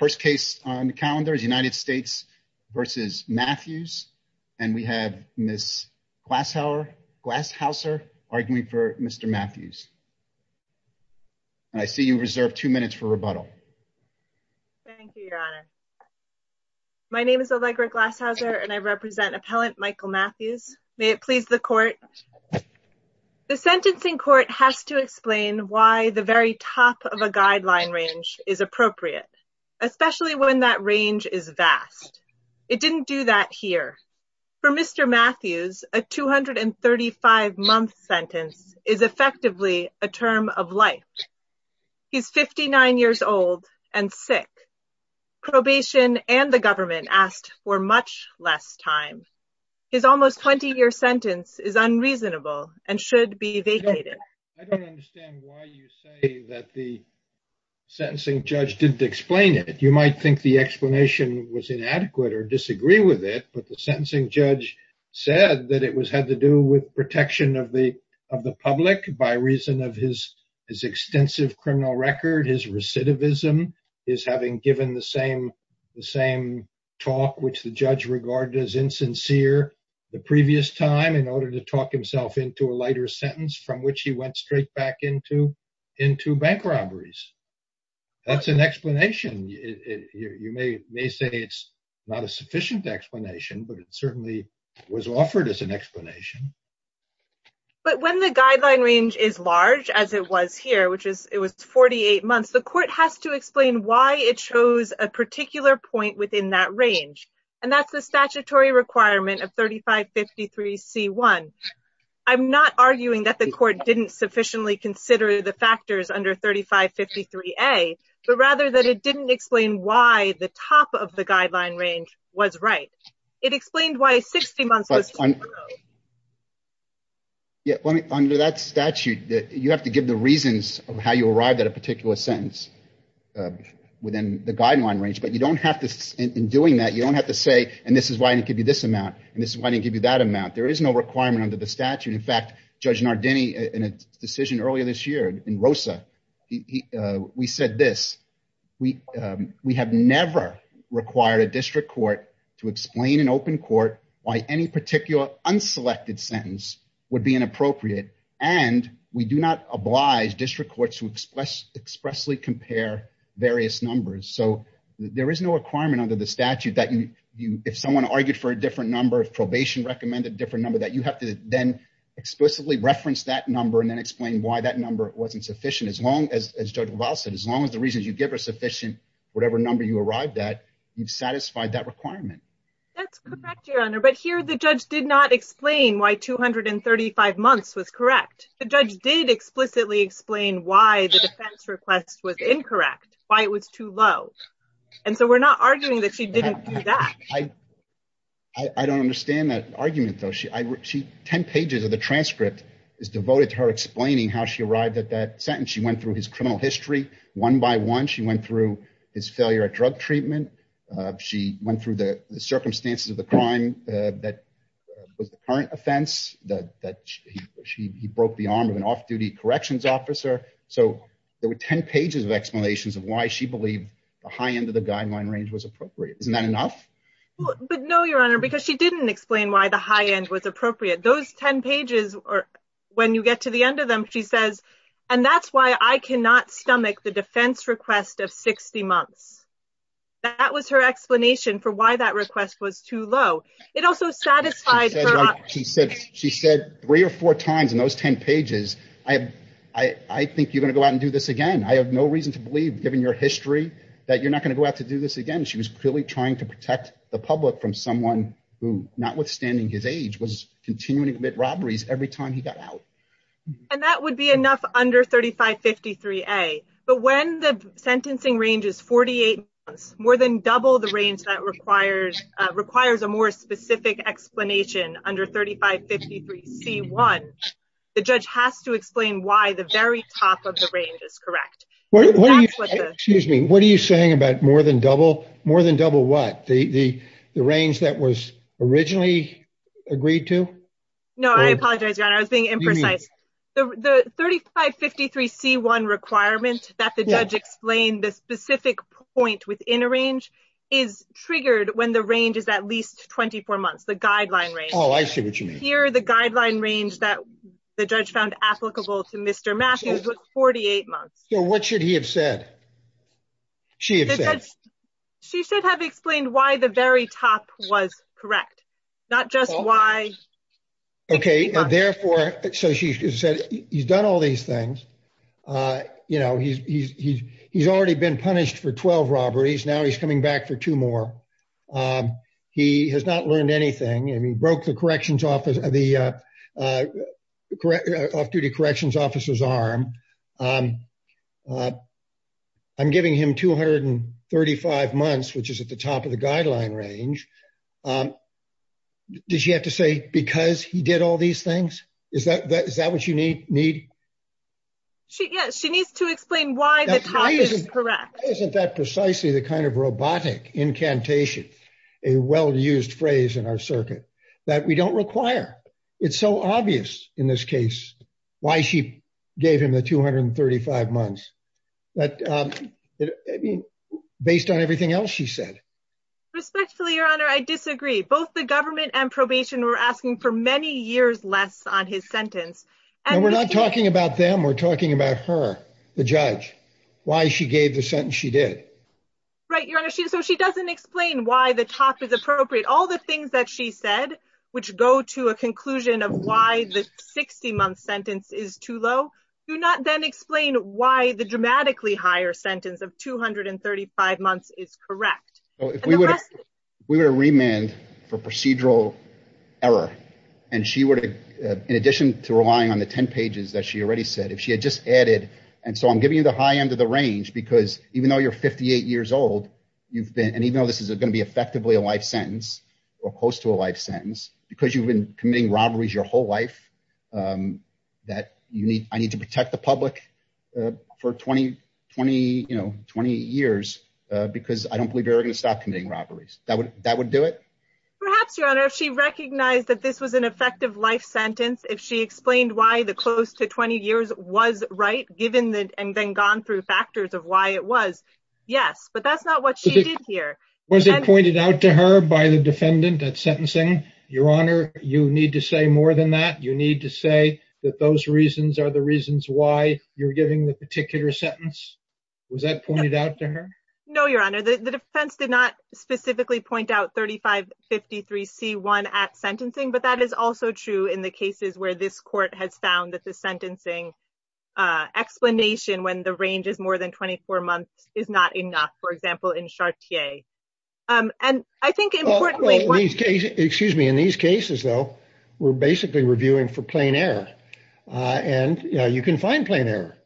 The first case on the calendar is United States v. Matthews, and we have Ms. Glashauser arguing for Mr. Matthews, and I see you reserve two minutes for rebuttal. Thank you, Your Honor. My name is Allegra Glashauser, and I represent Appellant Michael Matthews. May it please the Court. The sentencing court has to explain why the very top of a guideline range is appropriate, especially when that range is vast. It didn't do that here. For Mr. Matthews, a 235-month sentence is effectively a term of life. He's 59 years old and sick. Probation and the government asked for much less time. His almost 20-year sentence is unreasonable and should be vacated. I don't understand why you say that the sentencing judge didn't explain it. You might think the explanation was inadequate or disagree with it, but the sentencing judge said that it had to do with protection of the public by reason of his extensive criminal record, his recidivism, his having given the same talk which the judge regarded as insincere the previous time in order to talk himself into a lighter sentence from which he went straight back into bank robberies. That's an explanation. You may say it's not a sufficient explanation, but it certainly was offered as an explanation. But when the guideline range is large, as it was here, which was 48 months, the court has to explain why it chose a particular point within that range. And that's the statutory requirement of 3553C1. I'm not arguing that the court didn't sufficiently consider the factors under 3553A, but rather that it didn't explain why the top of the guideline range was right. It explained why 60 months was too long. Yeah, under that statute, you have to give the reasons of how you arrived at a particular sentence within the guideline range, but you don't have to, in doing that, you don't have to say, and this is why I didn't give you this amount, and this is why I didn't give you that amount. There is no requirement under the statute. In fact, Judge Nardini, in a decision earlier this year in ROSA, we said this, we have never required a district court to explain in open court why any particular unselected sentence would be inappropriate, and we do not oblige district courts to expressly compare various numbers. So there is no requirement under the statute that if someone argued for a different number, if probation recommended a different number, that you have to then explicitly reference that number and then explain why that number wasn't sufficient. As long as, as Judge LaValle said, as long as the reasons you give are sufficient, whatever number you arrived at, you've satisfied that requirement. That's correct, Your Honor, but here the judge did not explain why 235 months was correct. The judge did explicitly explain why the defense request was incorrect, why it was too low. And so we're not arguing that she didn't do that. I don't understand that argument, though. Ten pages of the transcript is devoted to her explaining how she arrived at that sentence. She went through his criminal history one by one. She went through his failure at drug treatment. She went through the circumstances of the crime that was the current offense, that he broke the arm of an off-duty corrections officer. So there were ten pages of explanations of why she believed the high end of the guideline range was appropriate. Isn't that enough? But no, Your Honor, because she didn't explain why the high end was appropriate. Those ten pages, when you get to the end of them, she says, and that's why I cannot stomach the defense request of 60 months. That was her explanation for why that request was too low. It also satisfied her... She said three or four times in those ten pages, I think you're going to go out and do this again. I have no reason to believe, given your history, that you're not going to go out to do this again. She was clearly trying to protect the public from someone who, notwithstanding his age, was continuing to commit robberies every time he got out. And that would be enough under 3553A. But when the sentencing range is 48 months, more than double the range that requires a more specific explanation under 3553C1, the judge has to explain why the very top of the range is correct. What are you saying about more than double? More than double what? The range that was originally agreed to? No, I apologize, Your Honor. I was being imprecise. The 3553C1 requirement that the judge explained, the specific point within a range, is triggered when the range is at least 24 months, the guideline range. Oh, I see what you mean. Here, the guideline range that the judge found applicable to Mr. Matthews was 48 months. So what should he have said? She should have explained why the very top was correct, not just why. Okay. So she said he's done all these things. He's already been punished for 12 robberies. Now he's coming back for two more. He has not learned anything. He broke the off-duty corrections officer's arm. I'm giving him 235 months, which is at the top of the guideline range. Did she have to say because he did all these things? Is that what you need? Yes, she needs to explain why the top is correct. Why isn't that precisely the kind of robotic incantation, a well-used phrase in our circuit, that we don't require? It's so obvious in this case why she gave him the 235 months, based on everything else she said. Respectfully, Your Honor, I disagree. Both the government and probation were asking for many years less on his sentence. No, we're not talking about them. We're talking about her, the judge, why she gave the sentence she did. Right, Your Honor. So she doesn't explain why the top is appropriate. All the things that she said, which go to a conclusion of why the 60-month sentence is too low, do not then explain why the dramatically higher sentence of 235 months is correct. If we were to remand for procedural error, in addition to relying on the 10 pages that she already said, if she had just added, and so I'm giving you the high end of the range because even though you're 58 years old, and even though this is going to be effectively a life sentence, or close to a life sentence, because you've been committing robberies your whole life, that I need to protect the public for 20 years, because I don't believe you're ever going to stop committing robberies. That would do it? Perhaps, Your Honor, if she recognized that this was an effective life sentence, if she explained why the close to 20 years was right, given and then gone through factors of why it was, yes. But that's not what she did here. Was it pointed out to her by the defendant at sentencing? Your Honor, you need to say more than that. You need to say that those reasons are the reasons why you're giving the particular sentence. Was that pointed out to her? No, Your Honor. The defense did not specifically point out 3553C1 at sentencing, but that is also true in the cases where this court has found that the sentencing explanation when the range is more than 24 months is not enough. For example, in Chartier. In these cases, we're basically reviewing for plain error. You can find plain error.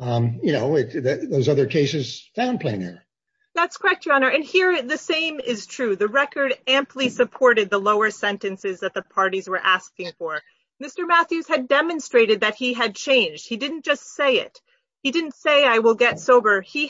Those other cases found plain error. That's correct, Your Honor. Here, the same is true. The record amply supported the lower sentences that the parties were asking for. Mr. Matthews had demonstrated that he had changed. He didn't just say it. He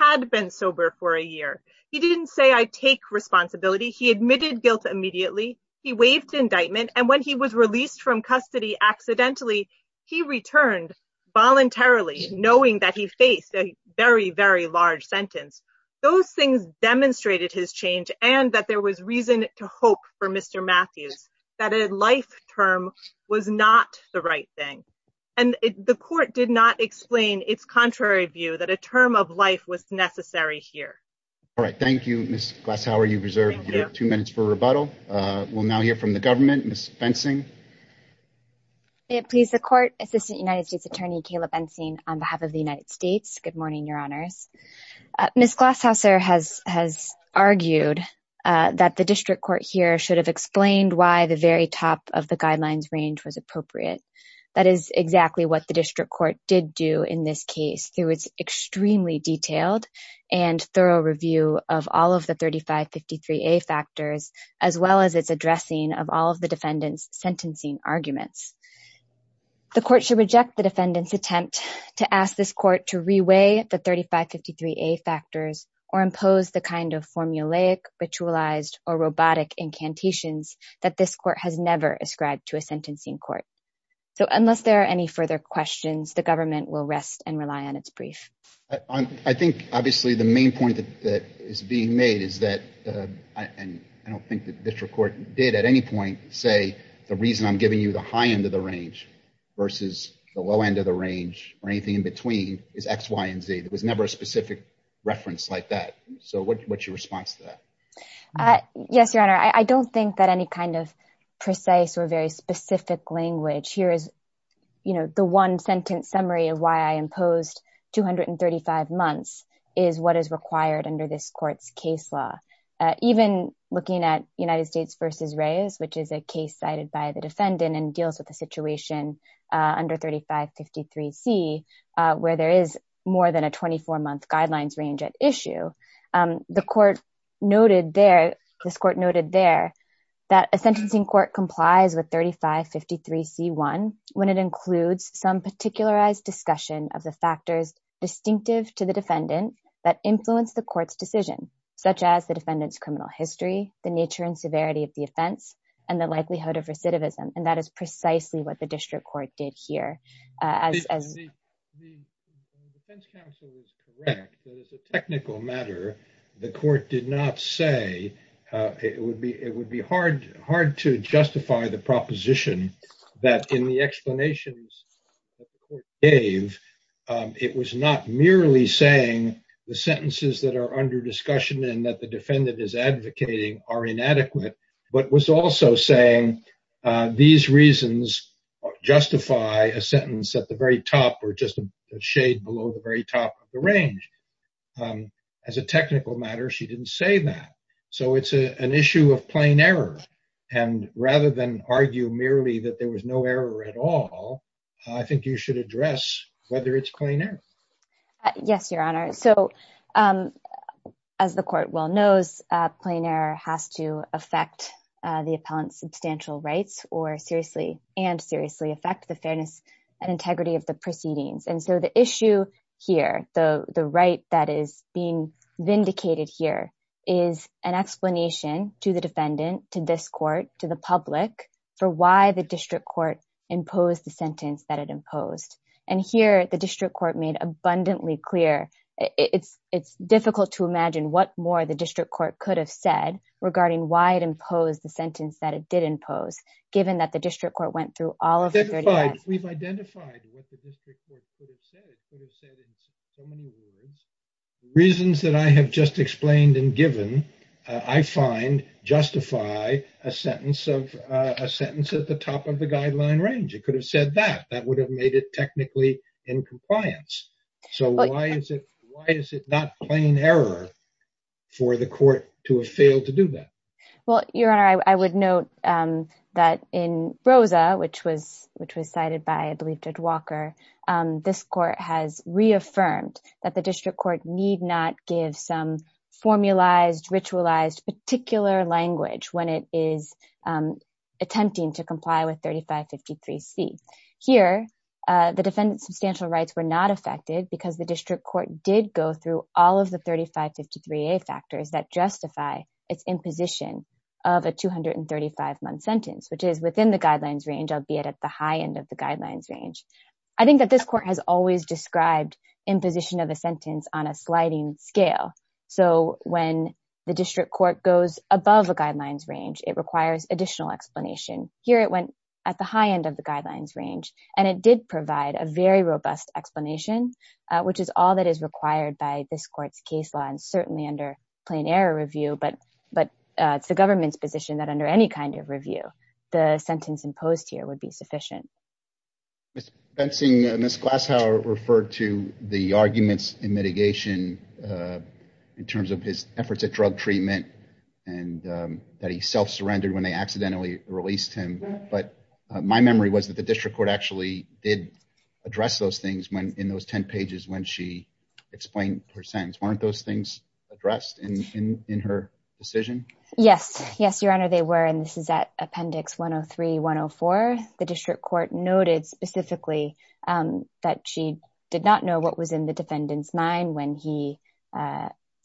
had been sober for a year. He didn't say, I take responsibility. He admitted guilt immediately. He waived indictment. When he was released from custody accidentally, he returned voluntarily knowing that he faced a very large sentence. Those things demonstrated his change and that there was reason to hope for Mr. Matthews that a life term was not the right thing. The court did not explain its contrary view that a term of life was necessary here. Thank you, Ms. Glashauer. You reserve your two minutes for rebuttal. We'll now hear from the government. Ms. Bensing. May it please the court, Assistant United States Attorney Kayla Bensing on behalf of the United States. Good morning, Your Honors. Ms. Glashauer has argued that the district court here should have explained why the very top of the guidelines range was appropriate. That is exactly what the district court did do in this case through its extremely detailed and thorough review of all of the 3553A factors as well as its addressing of all of the defendant's sentencing arguments. The court should reject the defendant's attempt to ask this court to reweigh the 3553A factors or impose the kind of formulaic, ritualized, or robotic incantations that this court has never prescribed to a sentencing court. So unless there are any further questions, the government will rest and rely on its brief. I think, obviously, the main point that is being made is that I don't think the district court did at any point say the reason I'm giving you the high end of the range versus the low end of the range or anything in between is X, Y, and Z. There was never a specific reference like that. So what's your response to that? Yes, Your Honor. I don't think that any kind of precise or very specific language here is the one sentence summary of why I imposed 235 months is what is required under this court's case law. Even looking at United States v. Reyes, which is a case cited by the defendant and deals with a situation under 3553C where there is more than a 24-month guidelines range at issue, the court noted there that a sentencing court complies with 3553C1 when it includes some particularized discussion of the factors distinctive to the defendant that influence the court's decision, such as the defendant's criminal history, the nature and severity of the offense, and the likelihood of recidivism. And that is precisely what the district court did here. The defense counsel is correct that as a technical matter the court did not say it would be hard to justify the proposition that in the explanations that the court gave it was not merely saying the sentences that are under discussion and that the defendant is advocating are inadequate but was also saying these reasons justify a sentence at the very top or just a shade below the very top of the range. As a technical matter she didn't say that. So it's an issue of plain error and rather than argue merely that there was no error at all I think you should address whether it's plain error. Yes, Your Honor. So as the court well knows plain error has to affect the appellant's substantial rights or seriously and seriously affect the fairness and integrity of the proceedings. And so the issue here, the right that is being vindicated here is an explanation to the defendant, to this court, to the public for why the district court imposed the sentence that it imposed. And here the district court made abundantly clear it's difficult to imagine what more the district court could have said regarding why it imposed the sentence that it did impose given that the district court went through all of the 30 ads. We've identified what the district could have said in so many words. The reasons that I have just explained and given I find justify a sentence of a sentence at the top of the guideline range. It could have said that. That would have made it technically in compliance. So why is it not plain error for the court to have failed to do that? Well, Your Honor, I would note that in Rosa which was cited by Judge Walker, this court has reaffirmed that the district court need not give some formulized, ritualized particular language when it is attempting to comply with 3553C. Here, the defendant's substantial rights were not affected because the district court did go through all of the 3553A factors that justify its imposition of a 235 month sentence which is within the guidelines range, albeit at the high end of the guidelines range. I think that this court has always described imposition of a sentence on a sliding scale. So when the district court goes above the guidelines range, it requires additional explanation. Here it went at the high end of the guidelines range and it did provide a very robust explanation which is all that is required by this court's case law and certainly under plain error review but it's the government's position that under any kind of review the sentence imposed here would be sufficient. Ms. Glashow referred to the arguments in mitigation in terms of his efforts at drug treatment that he self-surrendered when they accidentally released him but my memory was that the district court actually did address those things in those 10 pages when she explained her sentence. Weren't those things addressed in her decision? Yes. Yes, Your Honor they were and this is at appendix 103-104. The district court noted specifically that she did not know what was in the defendant's mind when he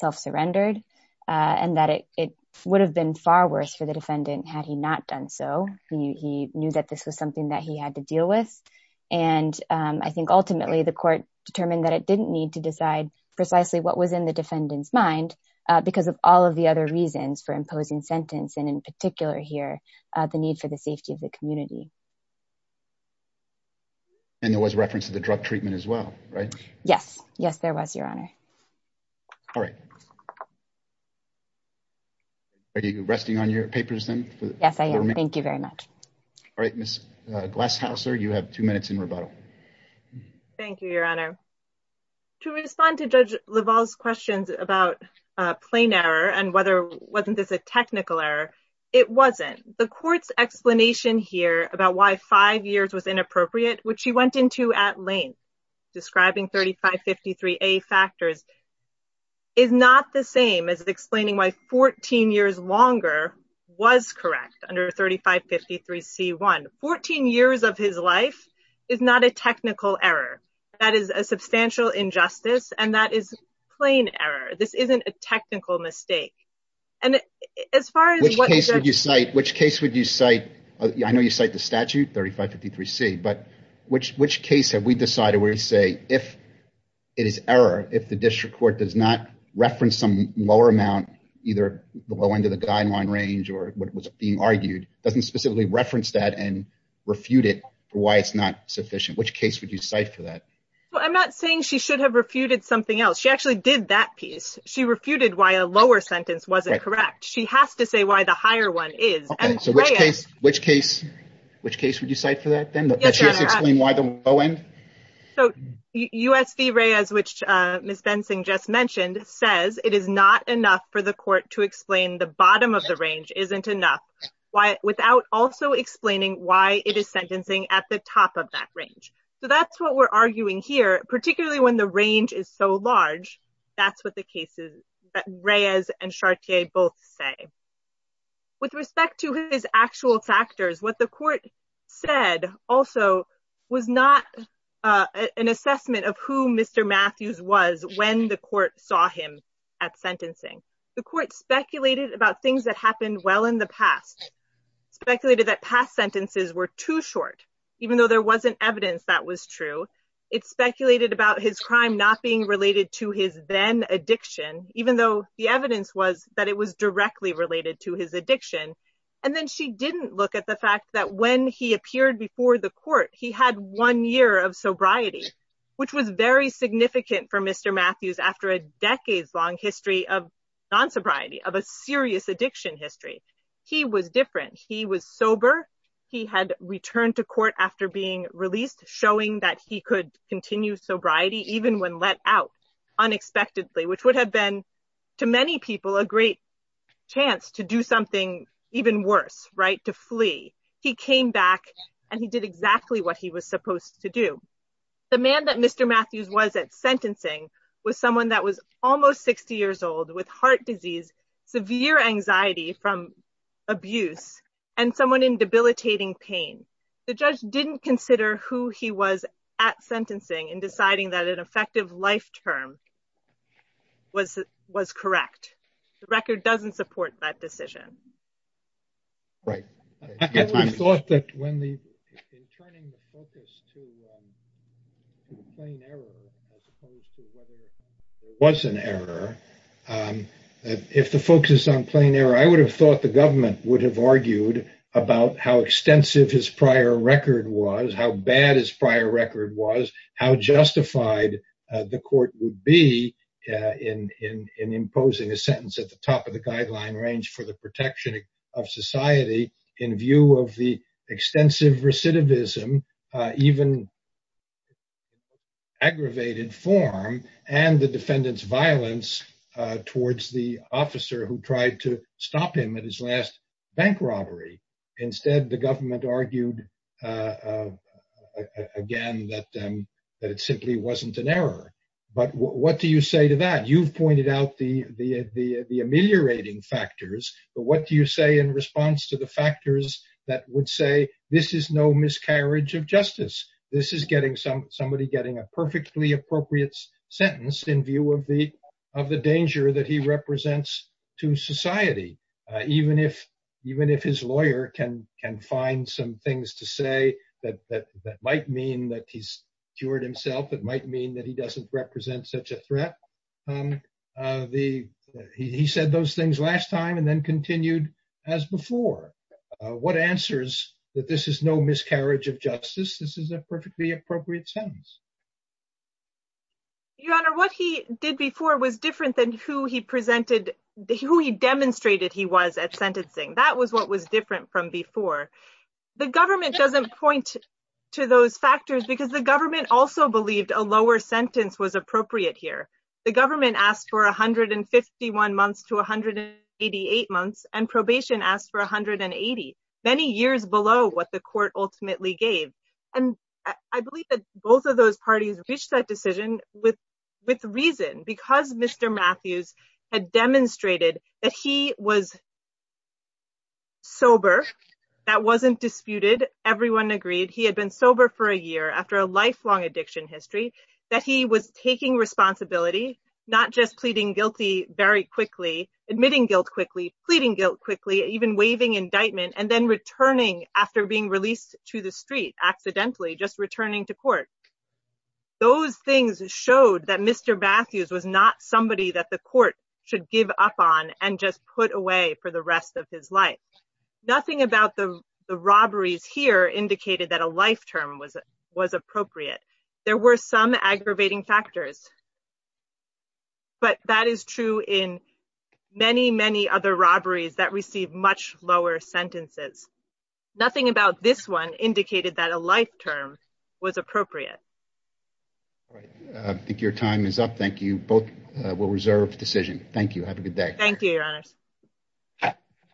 self-surrendered and that it would have been far worse for the defendant had he not done so. He knew that this was something that he had to deal with and I think ultimately the court determined that it didn't need to decide precisely what was in the defendant's mind because of all of the other arguments in the sentence and in particular here the need for the safety of the community. And there was reference to the drug treatment as well, right? Yes. Yes, there was, Your Honor. All right. Are you resting on your papers then? Yes, I am. Thank you very much. All right, Ms. Glashow, sir, you have two minutes in rebuttal. Thank you, Your Honor. To respond to Judge Leval's questions about plain error and whether wasn't this a technical error, it wasn't. The court's explanation here about why five years was inappropriate, which he went into at length, describing 3553A factors is not the same as explaining why 14 years longer was correct under 3553C1. 14 years of his life is not a technical error. That is a substantial injustice and that is plain error. This isn't a technical mistake. Which case would you cite? I know you cite the statute, 3553C, but which case have we decided where you say it is error if the district court does not reference some lower amount, either the low end of the guideline range or what was being argued, doesn't specifically reference that and refute it for why it's not sufficient. Which case would you cite for that? I'm not saying she should have refuted something else. She actually did that piece. She refuted why a lower sentence wasn't correct. She has to say why the higher one is. Which case would you cite for that then? US v. Reyes, which Ms. Bensing just mentioned, says it is not enough for the court to explain the bottom of the range isn't enough without also explaining why it is sentencing at the top of that range. So that's what we're arguing here, particularly when the range is so large. That's what the cases Reyes and Chartier both say. With respect to his actual factors, what the court said also was not an assessment of who Mr. Matthews was when the court saw him at sentencing. The court speculated about things that happened well in the past, speculated that past sentences were too short, even though there wasn't evidence that was true. It speculated about his crime not being related to his then addiction, even though the evidence was that it was directly related to his addiction. And then she didn't look at the fact that when he appeared before the court, he had one year of sobriety, which was very significant for Mr. Matthews after a decades-long history of non-sobriety, of a serious addiction history. He was different. He was sober. He had returned to court after being released, showing that he could continue sobriety, even when let out, unexpectedly, which would have been, to many people, a great chance to do something even worse, right? To flee. He came back, and he did exactly what he was supposed to do. The man that Mr. Matthews was at sentencing was someone that was almost 60 years old with heart disease, severe anxiety from abuse, and someone in debilitating pain. The judge didn't consider who he was at sentencing in deciding that an effective life term was correct. The record doesn't support that decision. Right. I thought that when the in turning the focus to the plain error as opposed to whether it was an error, if the focus is on plain error, I would have thought the government would have argued about how extensive his prior record was, how bad his prior record was, how justified the court would be in imposing a sentence at the top of the guideline range for the protection of society in view of the extensive recidivism, even aggravated form, and the defendant's violence towards the officer who tried to stop him at his last bank robbery. Instead, the government argued again that it simply wasn't an error. But what do you say to that? You've pointed out the ameliorating factors, but what do you say in response to the factors that would say this is no miscarriage of justice. This is somebody getting a perfectly appropriate sentence in view of the danger that he represents to society, even if his lawyer can find some things to say that might mean that he's cured himself, it might mean that he doesn't represent such a threat. He said those things last time and then continued as before. What answers that this is no miscarriage of justice, this is a perfectly appropriate sentence? Your Honor, what he did before was different than who he presented, who he demonstrated he was at sentencing. That was what was different from before. The government doesn't point to those factors because the government also believed a lower sentence was appropriate here. The government asked for 151 months to 188 months, and probation asked for 180, many years below what the court ultimately gave. I believe that both of those parties reached that decision with reason, because Mr. Matthews had demonstrated that he was sober, that wasn't disputed, everyone agreed he had been sober for a year after a lifelong addiction history, that he was taking responsibility, not just pleading guilty very quickly, admitting guilt quickly, pleading guilt quickly, even waiving indictment, and then returning after being released to the street accidentally, just returning to court. Those things showed that Mr. Matthews was not somebody that the court should give up on and just put away for the rest of his life. Nothing about the robberies here indicated that a life term was appropriate. There were some aggravating factors, but that is true in many, many other robberies that received much lower sentences. Nothing about this one indicated that a life term was appropriate. I think your time is up. Thank you. Both will reserve decision. Thank you. Have a good day. Thank you, Your Honors.